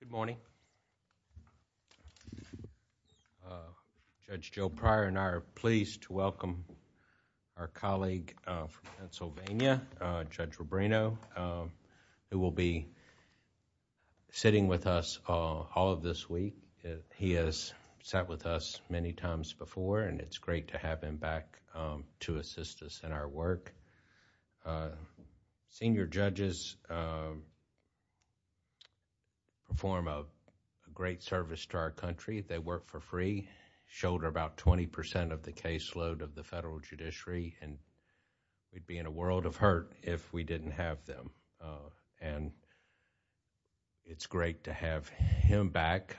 Good morning. Judge Joe Pryor and I are pleased to welcome our colleague from Pennsylvania, Judge Rubino, who will be sitting with us all of this week. He has sat with us many times before and it's great to have him back to assist us in our work. Senior judges perform a great service to our country. They work for free, shoulder about 20% of the caseload of the federal judiciary and we'd be in a world of hurt if we didn't have them. It's great to have him back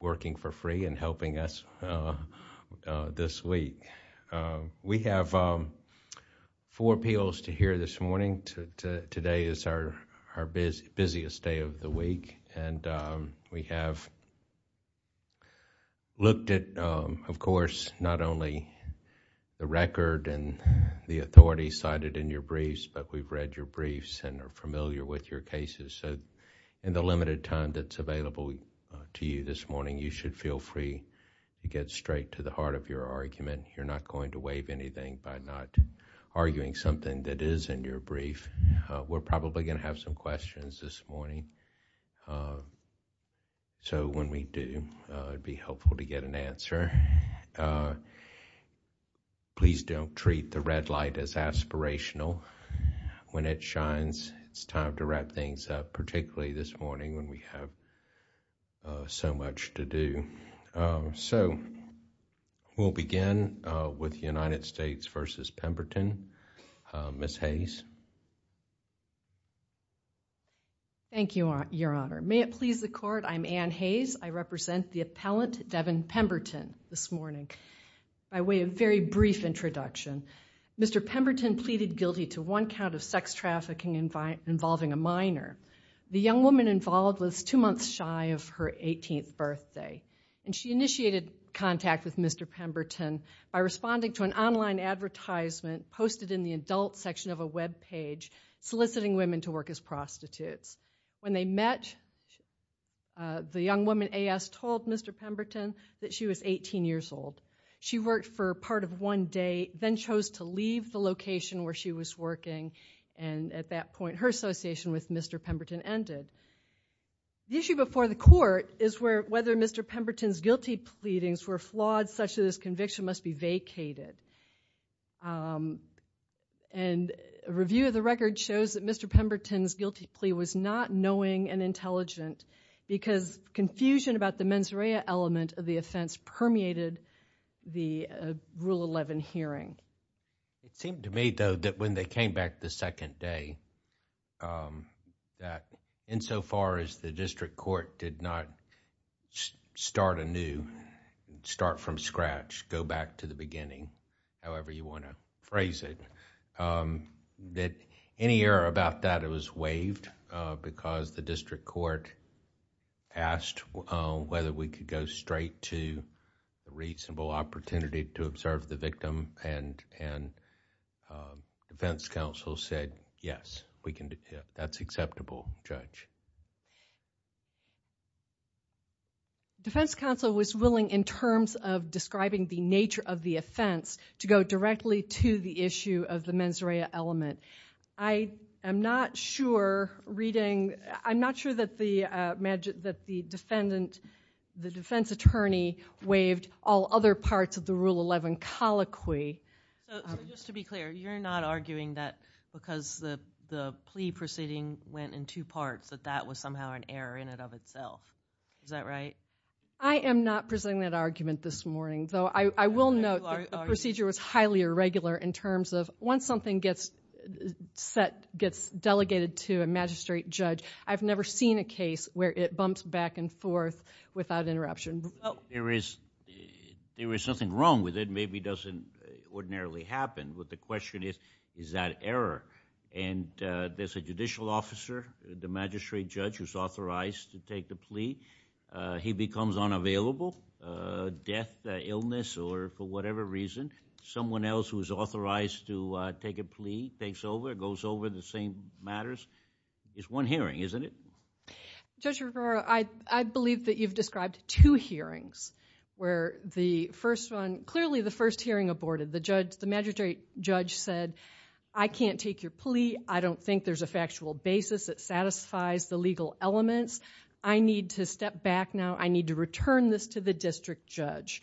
working for free and helping us this week. We have four appeals to hear this morning. Today is our busiest day of the week and we have looked at, of course, not only the record and the authorities cited in your briefs, but we've read your In the limited time that's available to you this morning, you should feel free to get straight to the heart of your argument. You're not going to waive anything by not arguing something that is in your brief. We're probably going to have some questions this morning, so when we do, it'd be helpful to get an answer. Please don't treat the red light as aspirational. When it shines, it's time to wrap things up, particularly this morning when we have so much to do. We'll begin with United States v. Pemberton. Ms. Hayes. Thank you, Your Honor. May it please the court, I'm Anne Hayes. I represent the appellant Devin Pemberton this morning. By way of very brief introduction, Mr. Pemberton pleaded guilty to one count of sex trafficking involving a minor. The young woman involved was two months shy of her 18th birthday. She initiated contact with Mr. Pemberton by responding to an online advertisement posted in the adult section of a webpage soliciting women to work as prostitutes. When they met, the young woman A.S. told Mr. Pemberton that she was 18 years old. She worked for part of one day, then chose to leave the location where she was working, and at that point, her association with Mr. Pemberton ended. The issue before the court is whether Mr. Pemberton's guilty pleadings were flawed such that his conviction must be vacated. A review of the record shows that Mr. Pemberton's guilty plea was not knowing and intelligent because confusion about the mens rea element of the offense permeated the Rule 11 hearing. It seemed to me, though, that when they came back the second day, that insofar as the district court did not start anew, start from scratch, go back to the beginning, however you want to phrase it, that any error about that, it was waived because the district court asked whether we could go straight to a reasonable opportunity to observe the victim, and defense counsel said, yes, we can do that. That's acceptable, Judge. The defense counsel was willing, in terms of describing the nature of the offense, to go directly to the issue of the mens rea element. I am not sure that the defense attorney waived all other parts of the Rule 11 colloquy. So just to be clear, you're not arguing that because the plea proceeding went in two parts that that was somehow an error in and of itself. Is that right? I am not presenting that argument this morning, though I will note that the procedure was highly irregular in terms of once something gets set, gets delegated to a magistrate judge, I've never seen a case where it bumps back and forth without interruption. There is nothing wrong with it. Maybe it doesn't ordinarily happen, but the question is, is that error? And there's a judicial officer, the magistrate judge, who's authorized to take the plea. He becomes unavailable, death, illness, or for whatever reason, someone else who is authorized to take a plea takes over, goes over the same matters. It's one hearing, isn't it? Judge Rivera, I believe that you've described two hearings where the first one, clearly the first hearing aborted, the judge, the magistrate judge said, I can't take your plea. I don't think there's a factual basis that satisfies the legal elements. I need to step back now. I need to return this to the district judge.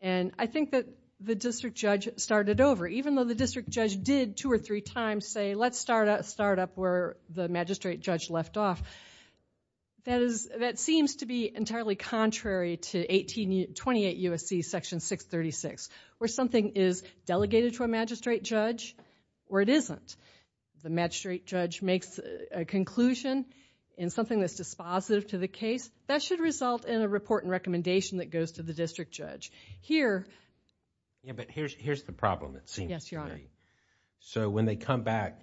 And I think that the district judge started over, even though the district judge did two or three times say, let's start up where the magistrate judge left off. That is, that seems to be entirely contrary to 1828 U.S.C. Section 636, where something is delegated to a magistrate judge, where it isn't. The magistrate judge makes a conclusion in something that's dispositive to the case. That should result in a report and recommendation that goes to the district judge. Here... Yeah, but here's the problem. It seems... Yes, Your Honor. So when they come back,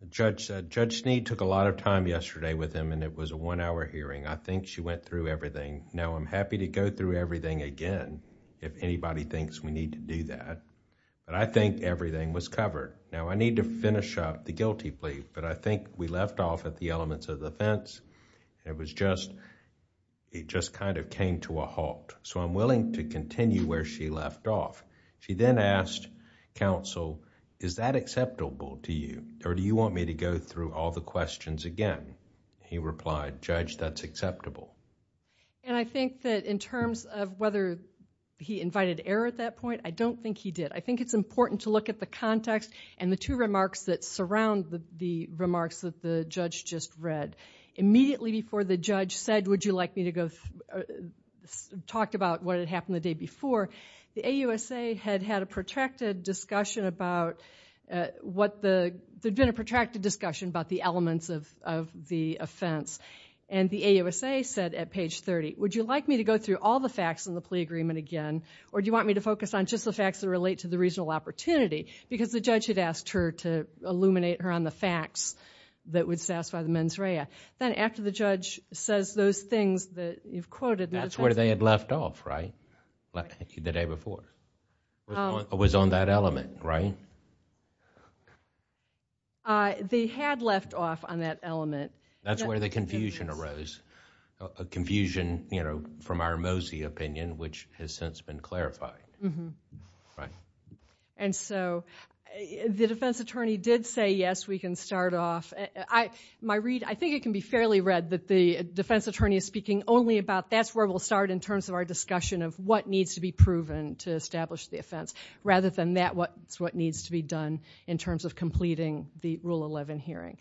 the judge said, Judge Snead took a lot of time yesterday with him and it was a one-hour hearing. I think she went through everything. Now, I'm happy to go through everything again if anybody thinks we need to do that, but I think everything was covered. Now, I need to finish up the guilty plea, but I think we left off at the elements of the fence. It was just... it just kind of came to a halt. So I'm willing to continue where she left off. She then asked counsel, is that acceptable to you or do you want me to go through all the questions again? He replied, Judge, that's acceptable. And I think that in terms of whether he invited error at that point, I don't think he did. I think it's important to look at the context and the two remarks that surround the remarks that the judge just read. Immediately before the judge said, would you like me to go... talked about what happened the day before, the AUSA had had a protracted discussion about the elements of the offense. And the AUSA said at page 30, would you like me to go through all the facts in the plea agreement again or do you want me to focus on just the facts that relate to the reasonable opportunity? Because the judge had asked her to illuminate her on the facts that would satisfy the mens rea. Then after the judge says those things that you've quoted... The day before. It was on that element, right? They had left off on that element. That's where the confusion arose. A confusion from our Mosey opinion, which has since been clarified. And so, the defense attorney did say, yes, we can start off. My read, I think it can be fairly read that the defense attorney is speaking only about that's where we'll start in terms of our what needs to be proven to establish the offense. Rather than that, what needs to be done in terms of completing the Rule 11 hearing.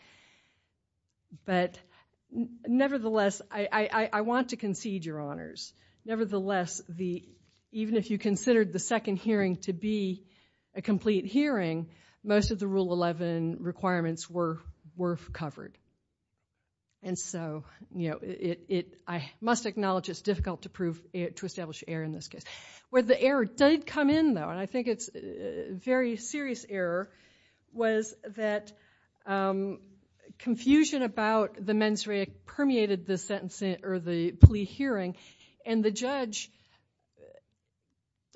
But nevertheless, I want to concede your honors. Nevertheless, even if you considered the second hearing to be a complete hearing, most of the Rule 11 requirements were covered. And so, I must acknowledge it's difficult to establish error in this case. Where the error did come in, though, and I think it's a very serious error, was that confusion about the mens rea permeated the plea hearing. And the judge,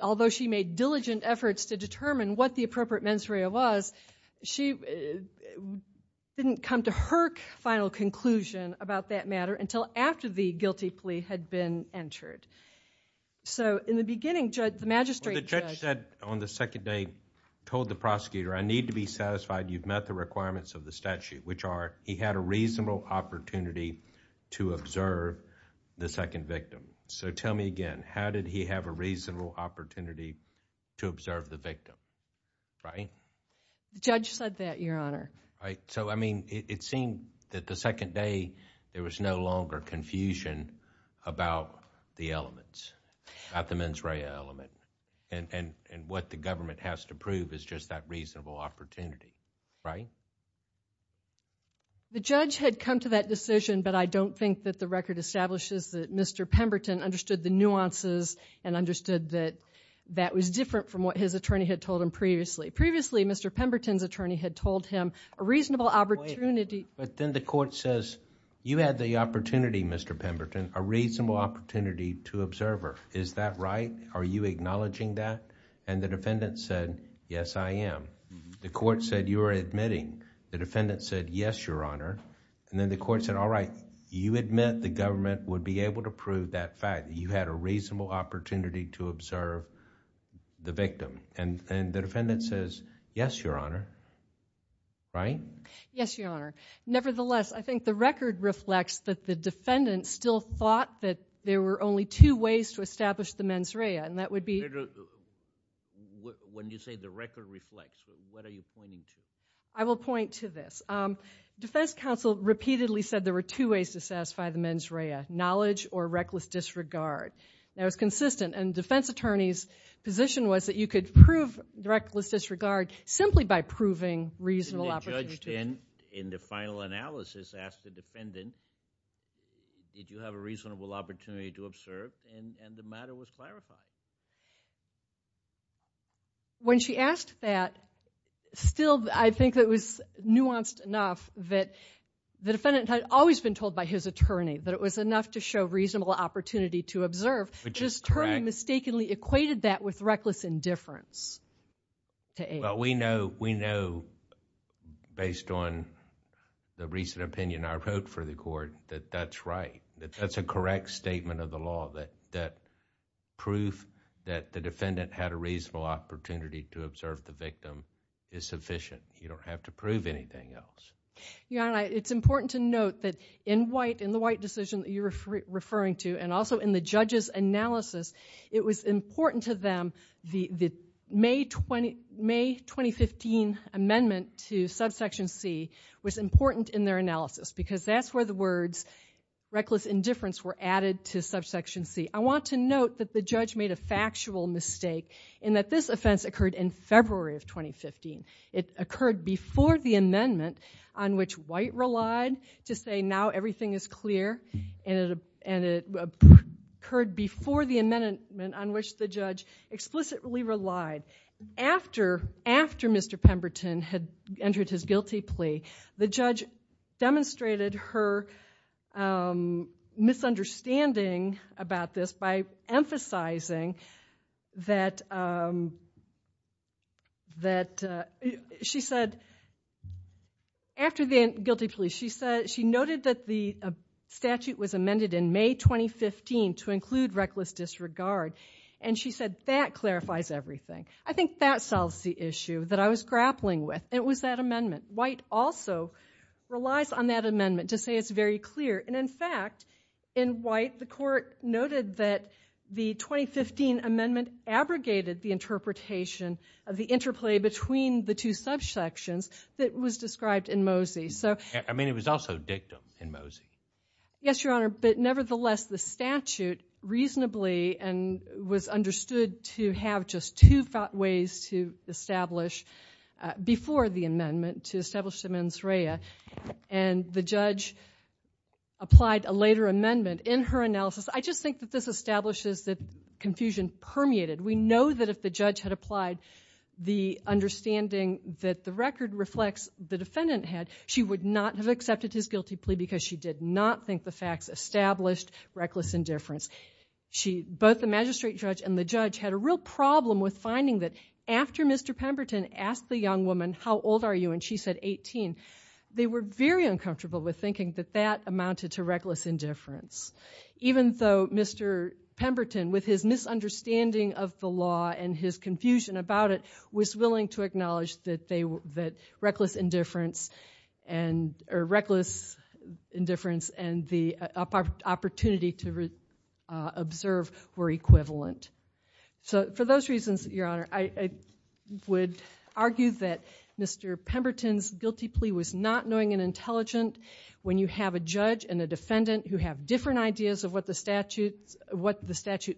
although she made diligent efforts to determine what the appropriate mens rea was, she didn't come to her final conclusion about that matter until after the guilty plea had been entered. So, in the beginning, Judge, the magistrate. Well, the judge said on the second day, told the prosecutor, I need to be satisfied you've met the requirements of the statute, which are he had a reasonable opportunity to observe the second victim. So, tell me again, how did he have a reasonable opportunity to observe the victim, right? The judge said that, your honor. Right. So, I mean, it seemed that the second day, there was no longer confusion about the elements, about the mens rea element, and what the government has to prove is just that reasonable opportunity, right? The judge had come to that decision, but I don't think that the record establishes that Mr. Pemberton understood the nuances and understood that that was different from what his attorney had told him previously. Previously, Mr. Pemberton's attorney had told him a reasonable opportunity... But then the court says, you had the opportunity, Mr. Pemberton, a reasonable opportunity to observe her. Is that right? Are you acknowledging that? And the defendant said, yes, I am. The court said, you're admitting. The defendant said, yes, your honor. And then the court said, all right, you admit the government would be able to prove that fact. You had a reasonable opportunity to observe the victim. And the defendant says, yes, your honor. Right? Yes, your honor. Nevertheless, I think the record reflects that the defendant still thought that there were only two ways to establish the mens rea, and that would be... When you say the record reflects, what are you pointing to? I will point to this. Defense counsel repeatedly said there were two ways to satisfy the mens rea, knowledge or reckless disregard. That was consistent. And the defense attorney's position was that you could prove reckless disregard simply by proving reasonable... And the judge then, in the final analysis, asked the defendant, did you have a reasonable opportunity to observe? And the matter was clarified. When she asked that, still, I think it was nuanced enough that the defendant had always been told by his attorney that it was enough to show reasonable opportunity to observe. Which is correct. His attorney mistakenly equated that with reckless indifference. We know, based on the recent opinion I wrote for the court, that that's right, that that's a correct statement of the law, that proof that the defendant had a reasonable opportunity to observe the victim is sufficient. You don't have to prove anything else. Your Honor, it's important to note that in the White decision that you're referring to, and also in the judge's analysis, it was important to them that the May 2015 amendment to subsection C was important in their analysis because that's where the words reckless indifference were added to subsection C. I want to note that the judge made a factual mistake in that this offense occurred in February of 2015. It occurred before the amendment on which White relied to say now everything is clear, and it occurred before the amendment on which the judge explicitly relied. After Mr. Pemberton had entered his guilty plea, the judge demonstrated her misunderstanding about this by emphasizing that she noted that the statute was amended in May 2015 to include reckless disregard, and she said that clarifies everything. I think that solves the issue that I was grappling with. It was that amendment. White also relies on that amendment to say it's very clear, and in fact, in White, the court noted that the 2015 amendment abrogated the interpretation of the interplay between the two subsections that was described in Mosey. I mean, it was also dictum in Mosey. Yes, Your Honor, but nevertheless, the statute reasonably and was understood to have just two ways to establish before the amendment to establish that the judge applied a later amendment. In her analysis, I just think that this establishes that confusion permeated. We know that if the judge had applied the understanding that the record reflects the defendant had, she would not have accepted his guilty plea because she did not think the facts established reckless indifference. Both the magistrate judge and the judge had a real problem with finding that after Mr. Pemberton asked the young woman, how old are you, and she said 18. They were very uncomfortable with thinking that that amounted to reckless indifference, even though Mr. Pemberton, with his misunderstanding of the law and his confusion about it, was willing to acknowledge that reckless indifference and the opportunity to observe were equivalent. So for those reasons, Your Honor, I would argue that Mr. Pemberton's guilty plea was not knowing and intelligent. When you have a judge and a defendant who have different ideas of what the statute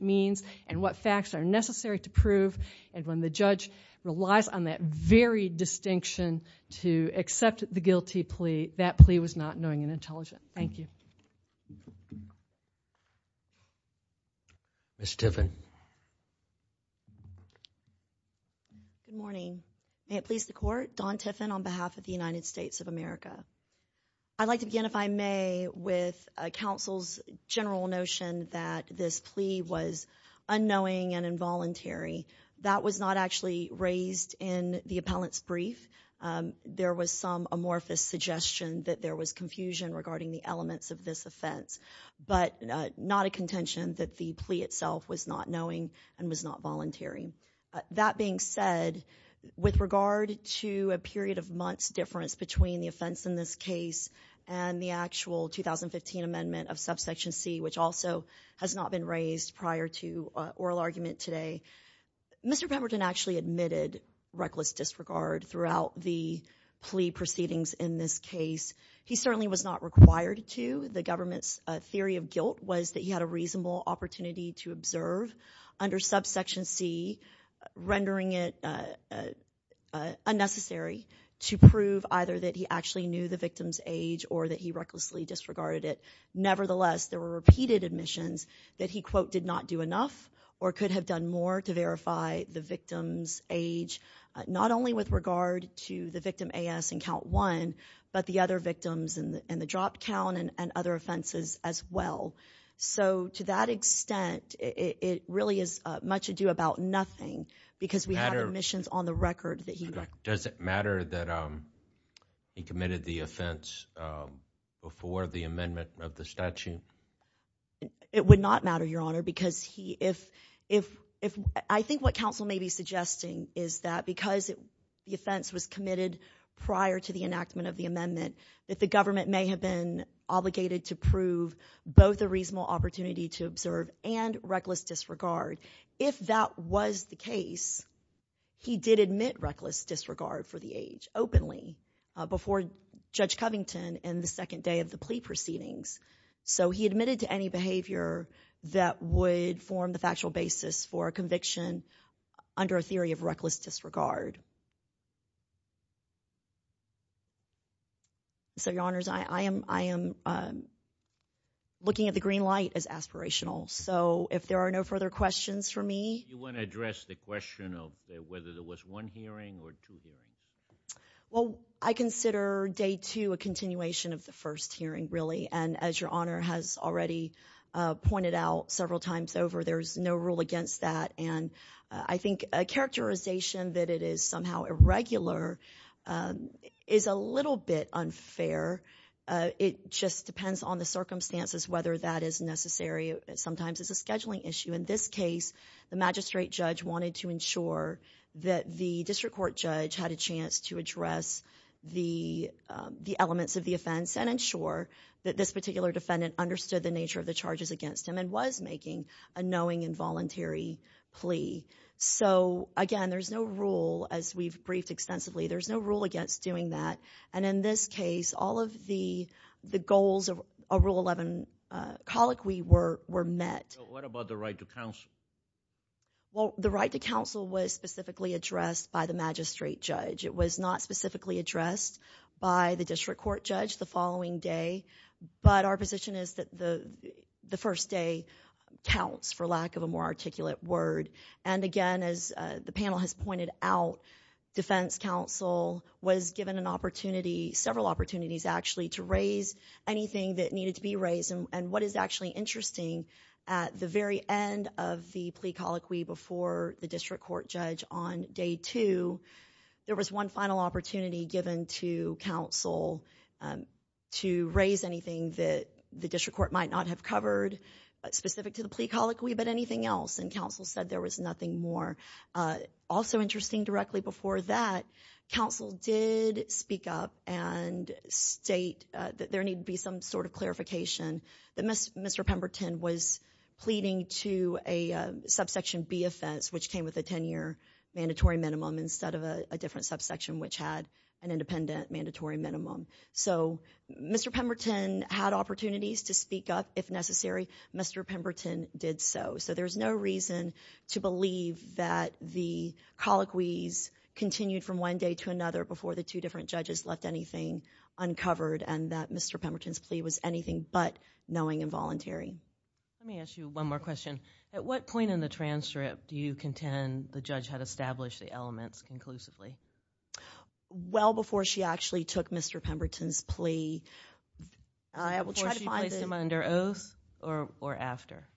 means and what facts are necessary to prove, and when the judge relies on that very distinction to accept the guilty plea, that plea was not knowing and intelligent. Thank you. Ms. Tiffin. Good morning. May it please the court, Dawn Tiffin on behalf of the United States of America. I'd like to begin, if I may, with counsel's general notion that this plea was unknowing and involuntary. That was not actually raised in the appellant's brief. There was some amorphous suggestion that there was confusion regarding the elements of this offense, but not a contention that the plea itself was not knowing and was not voluntary. That being said, with regard to a period of months difference between the offense in this case and the actual 2015 amendment of subsection C, which also has not been raised prior to oral argument today, Mr. Pemberton actually admitted reckless disregard throughout the plea proceedings in this case. He certainly was not required to. The government's theory of guilt was that he had a reasonable opportunity to observe under subsection C, rendering it unnecessary to prove either that he actually knew the victim's age or that he recklessly disregarded it. Nevertheless, there were repeated admissions that he, quote, did not do enough or could have done more to verify the victim's age, not only with regard to the victim A.S. in count one, but the other victims in the dropped count and other offenses as well. So to that extent, it really is much ado about nothing because we have admissions on the record that he doesn't matter that he committed the offense before the amendment of the statute. It would not matter, Your Honor, because he if if if I think what counsel may be suggesting is that because the offense was committed prior to the enactment of the amendment, that the government may have been obligated to prove both a reasonable opportunity to observe and reckless disregard. If that was the case, he did admit reckless disregard for the age openly before Judge Covington in the second day of the plea proceedings. So he admitted to any behavior that would form the factual basis for a conviction under a theory of reckless disregard. So, Your Honors, I am I am looking at the green light as aspirational. So if there are no further questions for me. You want to address the question of whether there was one hearing or two hearings? Well, I consider day two a continuation of the first hearing, really. And as Your Honor has already pointed out several times over, there's no rule against that. And I think a characterization that it is somehow irregular is a little bit unfair. It just depends on the circumstances, whether that is necessary. Sometimes it's a scheduling issue. In this case, the magistrate judge wanted to ensure that the district court judge had a and ensure that this particular defendant understood the nature of the charges against him and was making a knowing involuntary plea. So, again, there's no rule as we've briefed extensively. There's no rule against doing that. And in this case, all of the goals of Rule 11 colloquy were met. What about the right to counsel? Well, the right to counsel was specifically addressed by the magistrate judge. It was not the following day. But our position is that the first day counts, for lack of a more articulate word. And again, as the panel has pointed out, defense counsel was given an opportunity, several opportunities, actually, to raise anything that needed to be raised. And what is actually interesting, at the very end of the plea colloquy before the district court judge on day two, there was one final opportunity given to counsel to raise anything that the district court might not have covered specific to the plea colloquy, but anything else. And counsel said there was nothing more. Also interesting directly before that, counsel did speak up and state that there needed to be some sort of clarification that Mr. Pemberton was pleading to a subsection B offense, which came with a 10-year mandatory minimum instead of a different subsection, which had an independent mandatory minimum. So Mr. Pemberton had opportunities to speak up if necessary. Mr. Pemberton did so. So there's no reason to believe that the colloquies continued from one day to another before the two different judges left anything uncovered and that Mr. Pemberton's plea was anything but knowing and voluntary. Let me ask you one more question. At what point in the transcript do you contend the judge had established the elements conclusively? Well, before she actually took Mr. Pemberton's plea. Before she placed him under oath or after?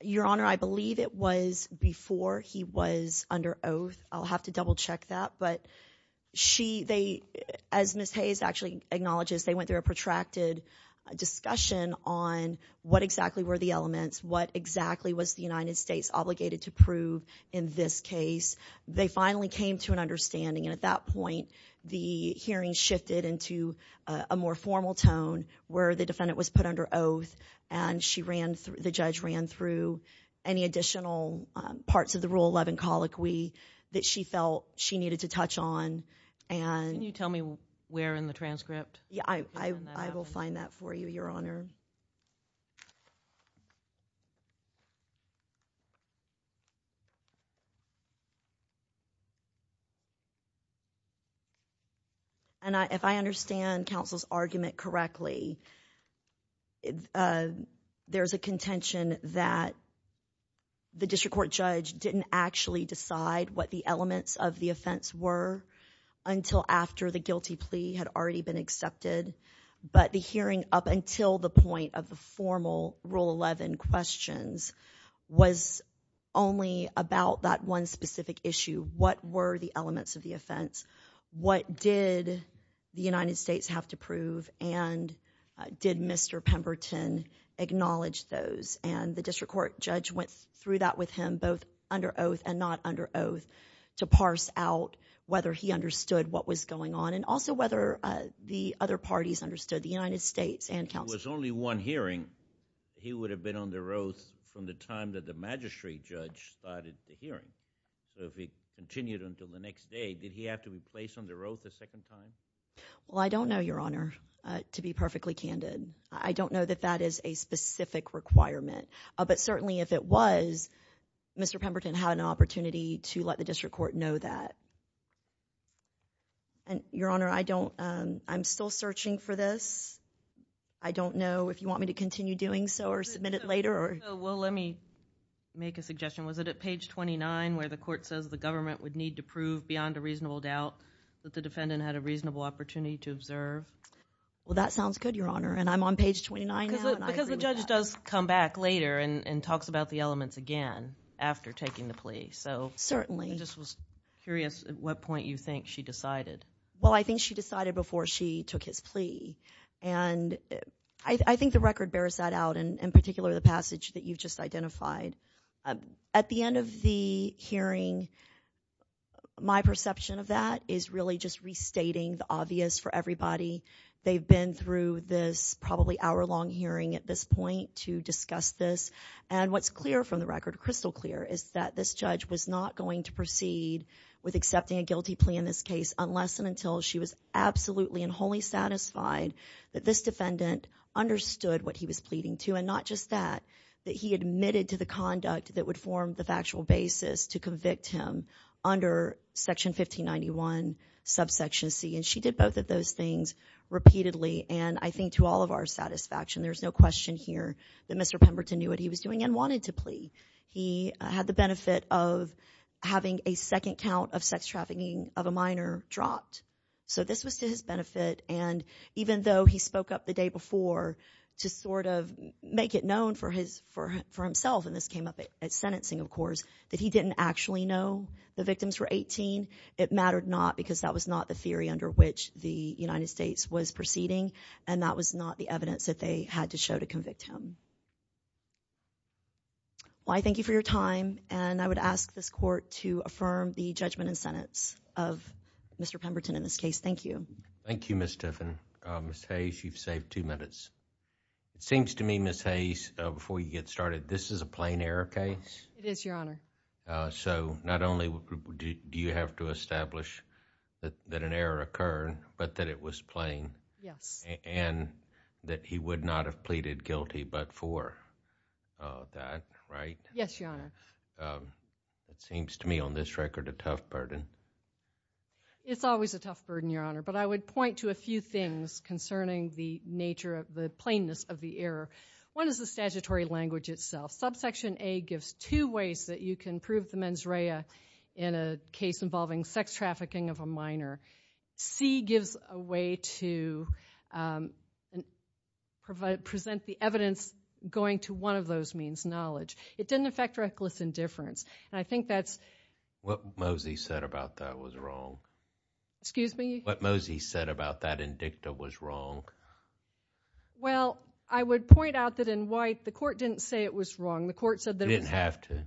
Your Honor, I believe it was before he was under oath. I'll have to double check that. But she, they, as Ms. Hayes actually acknowledges, they went through a protracted discussion on what exactly were the elements, what exactly was the United States obligated to prove in this case. They finally came to an understanding and at that point the hearing shifted into a more formal tone where the defendant was put under oath and she ran through, the judge ran through any additional parts of the Rule 11 colloquy that she felt she needed to touch on. Can you tell me where in the transcript? Yeah, I will find that for you, Your Honor. And if I understand counsel's argument correctly, there's a contention that the district court judge didn't actually decide what the elements of the offense were until after the guilty plea had already been accepted. But the hearing up until the point of the formal Rule 11 questions was only about that one specific issue. What were the elements of the offense? What did the United States have to prove? And did Mr. Pemberton acknowledge those? And the district court judge went through that with him both under oath and not under oath to parse out whether he understood what was going on and also whether the other one hearing he would have been on the road from the time that the magistrate judge started the hearing. So if he continued until the next day, did he have to be placed on the road the second time? Well, I don't know, Your Honor, to be perfectly candid. I don't know that that is a specific requirement. But certainly if it was, Mr. Pemberton had an opportunity to let the district court know that. Your Honor, I don't, I'm still searching for this. I don't know if you want me to continue doing so or submit it later. Well, let me make a suggestion. Was it at page 29 where the court says the government would need to prove beyond a reasonable doubt that the defendant had a reasonable opportunity to observe? Well, that sounds good, Your Honor. And I'm on page 29 now. Because the judge does come back later and talks about the elements again after taking the plea. So certainly I just was curious at what point you think she decided? Well, I think she decided before she took his plea. And I think the record bears that out. And in particular, the passage that you've just identified. At the end of the hearing, my perception of that is really just restating the obvious for everybody. They've been through this probably hour-long hearing at this point to discuss this. And what's clear from the record, crystal clear, is that this judge was not going to proceed with accepting a guilty plea in this case unless and until she was absolutely and wholly satisfied that this defendant understood what he was pleading to. And not just that, that he admitted to the conduct that would form the factual basis to convict him under section 1591 subsection c. And she did both of those things repeatedly. And I think to all of our satisfaction, there's no question here that Mr. Pemberton knew what he was doing and wanted to plea. He had the benefit of having a second count of sex trafficking of a minor dropped. So this was to his benefit. And even though he spoke up the day before to sort of make it known for himself, and this came up at sentencing of course, that he didn't actually know the victims were 18, it mattered not because that was not the theory under which the United States was proceeding. And that was not the evidence that they had to show to convict him. Well, I thank you for your time. And I would ask this court to affirm the judgment and sentence of Mr. Pemberton in this case. Thank you. Thank you, Ms. Tiffin. Ms. Hayes, you've saved two minutes. It seems to me, Ms. Hayes, before you get started, this is a plain error case. It is, Your Honor. So not only do you have to establish that an error occurred, but that it was plain. Yes. And that he would not have pleaded guilty but for that, right? Yes, Your Honor. It seems to me on this record a tough burden. It's always a tough burden, Your Honor. But I would point to a few things concerning the nature of the plainness of the error. One is the statutory language itself. Subsection A gives two ways that you can prove the mens rea in a case involving sex trafficking of a minor. C gives a way to present the evidence going to one of those means, knowledge. It didn't affect reckless indifference. And I think that's— What Mosey said about that was wrong. Excuse me? What Mosey said about that in dicta was wrong. Well, I would point out that in White, the court didn't say it was wrong. The court said— It didn't have to.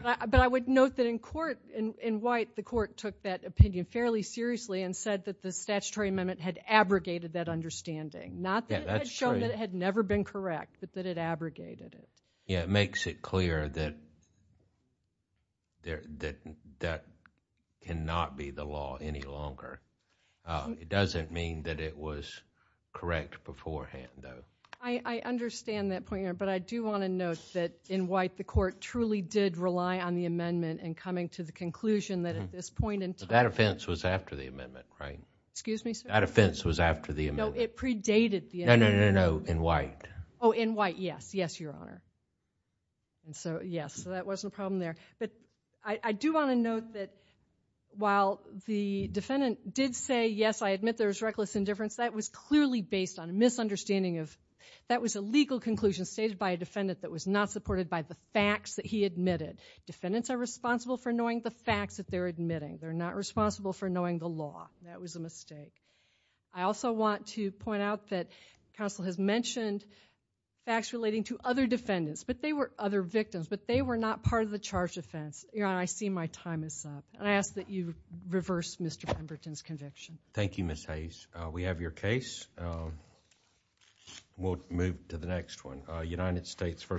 But I would note that in court, in White, the court took that opinion fairly seriously and said that the statutory amendment had abrogated that understanding. Not that it had shown that it had never been correct, but that it abrogated it. Yeah, it makes it clear that that cannot be the law any longer. It doesn't mean that it was correct beforehand, though. I understand that point, Your Honor, but I do want to note that in White, the court truly did rely on the amendment in coming to the conclusion that at this point in time— That offense was after the amendment, right? Excuse me, sir? That offense was after the amendment. No, it predated the amendment. No, no, no, in White. Oh, in White, yes. Yes, Your Honor. Yes, so that wasn't a problem there. But I do want to note that while the defendant did say, yes, I admit there was reckless indifference, that was clearly based on a misunderstanding of— That was a legal conclusion stated by a defendant that was not supported by the facts that he admitted. Defendants are responsible for knowing the facts that they're admitting. They're not responsible for knowing the law. That was a mistake. I also want to point out that counsel has mentioned facts relating to other defendants, but they were other victims, but they were not part of the charged offense. Your Honor, I see my time is up, and I ask that you reverse Mr. Pemberton's conviction. Thank you, Ms. Hayes. We have your case. We'll move to the next one, United States v. Brookings.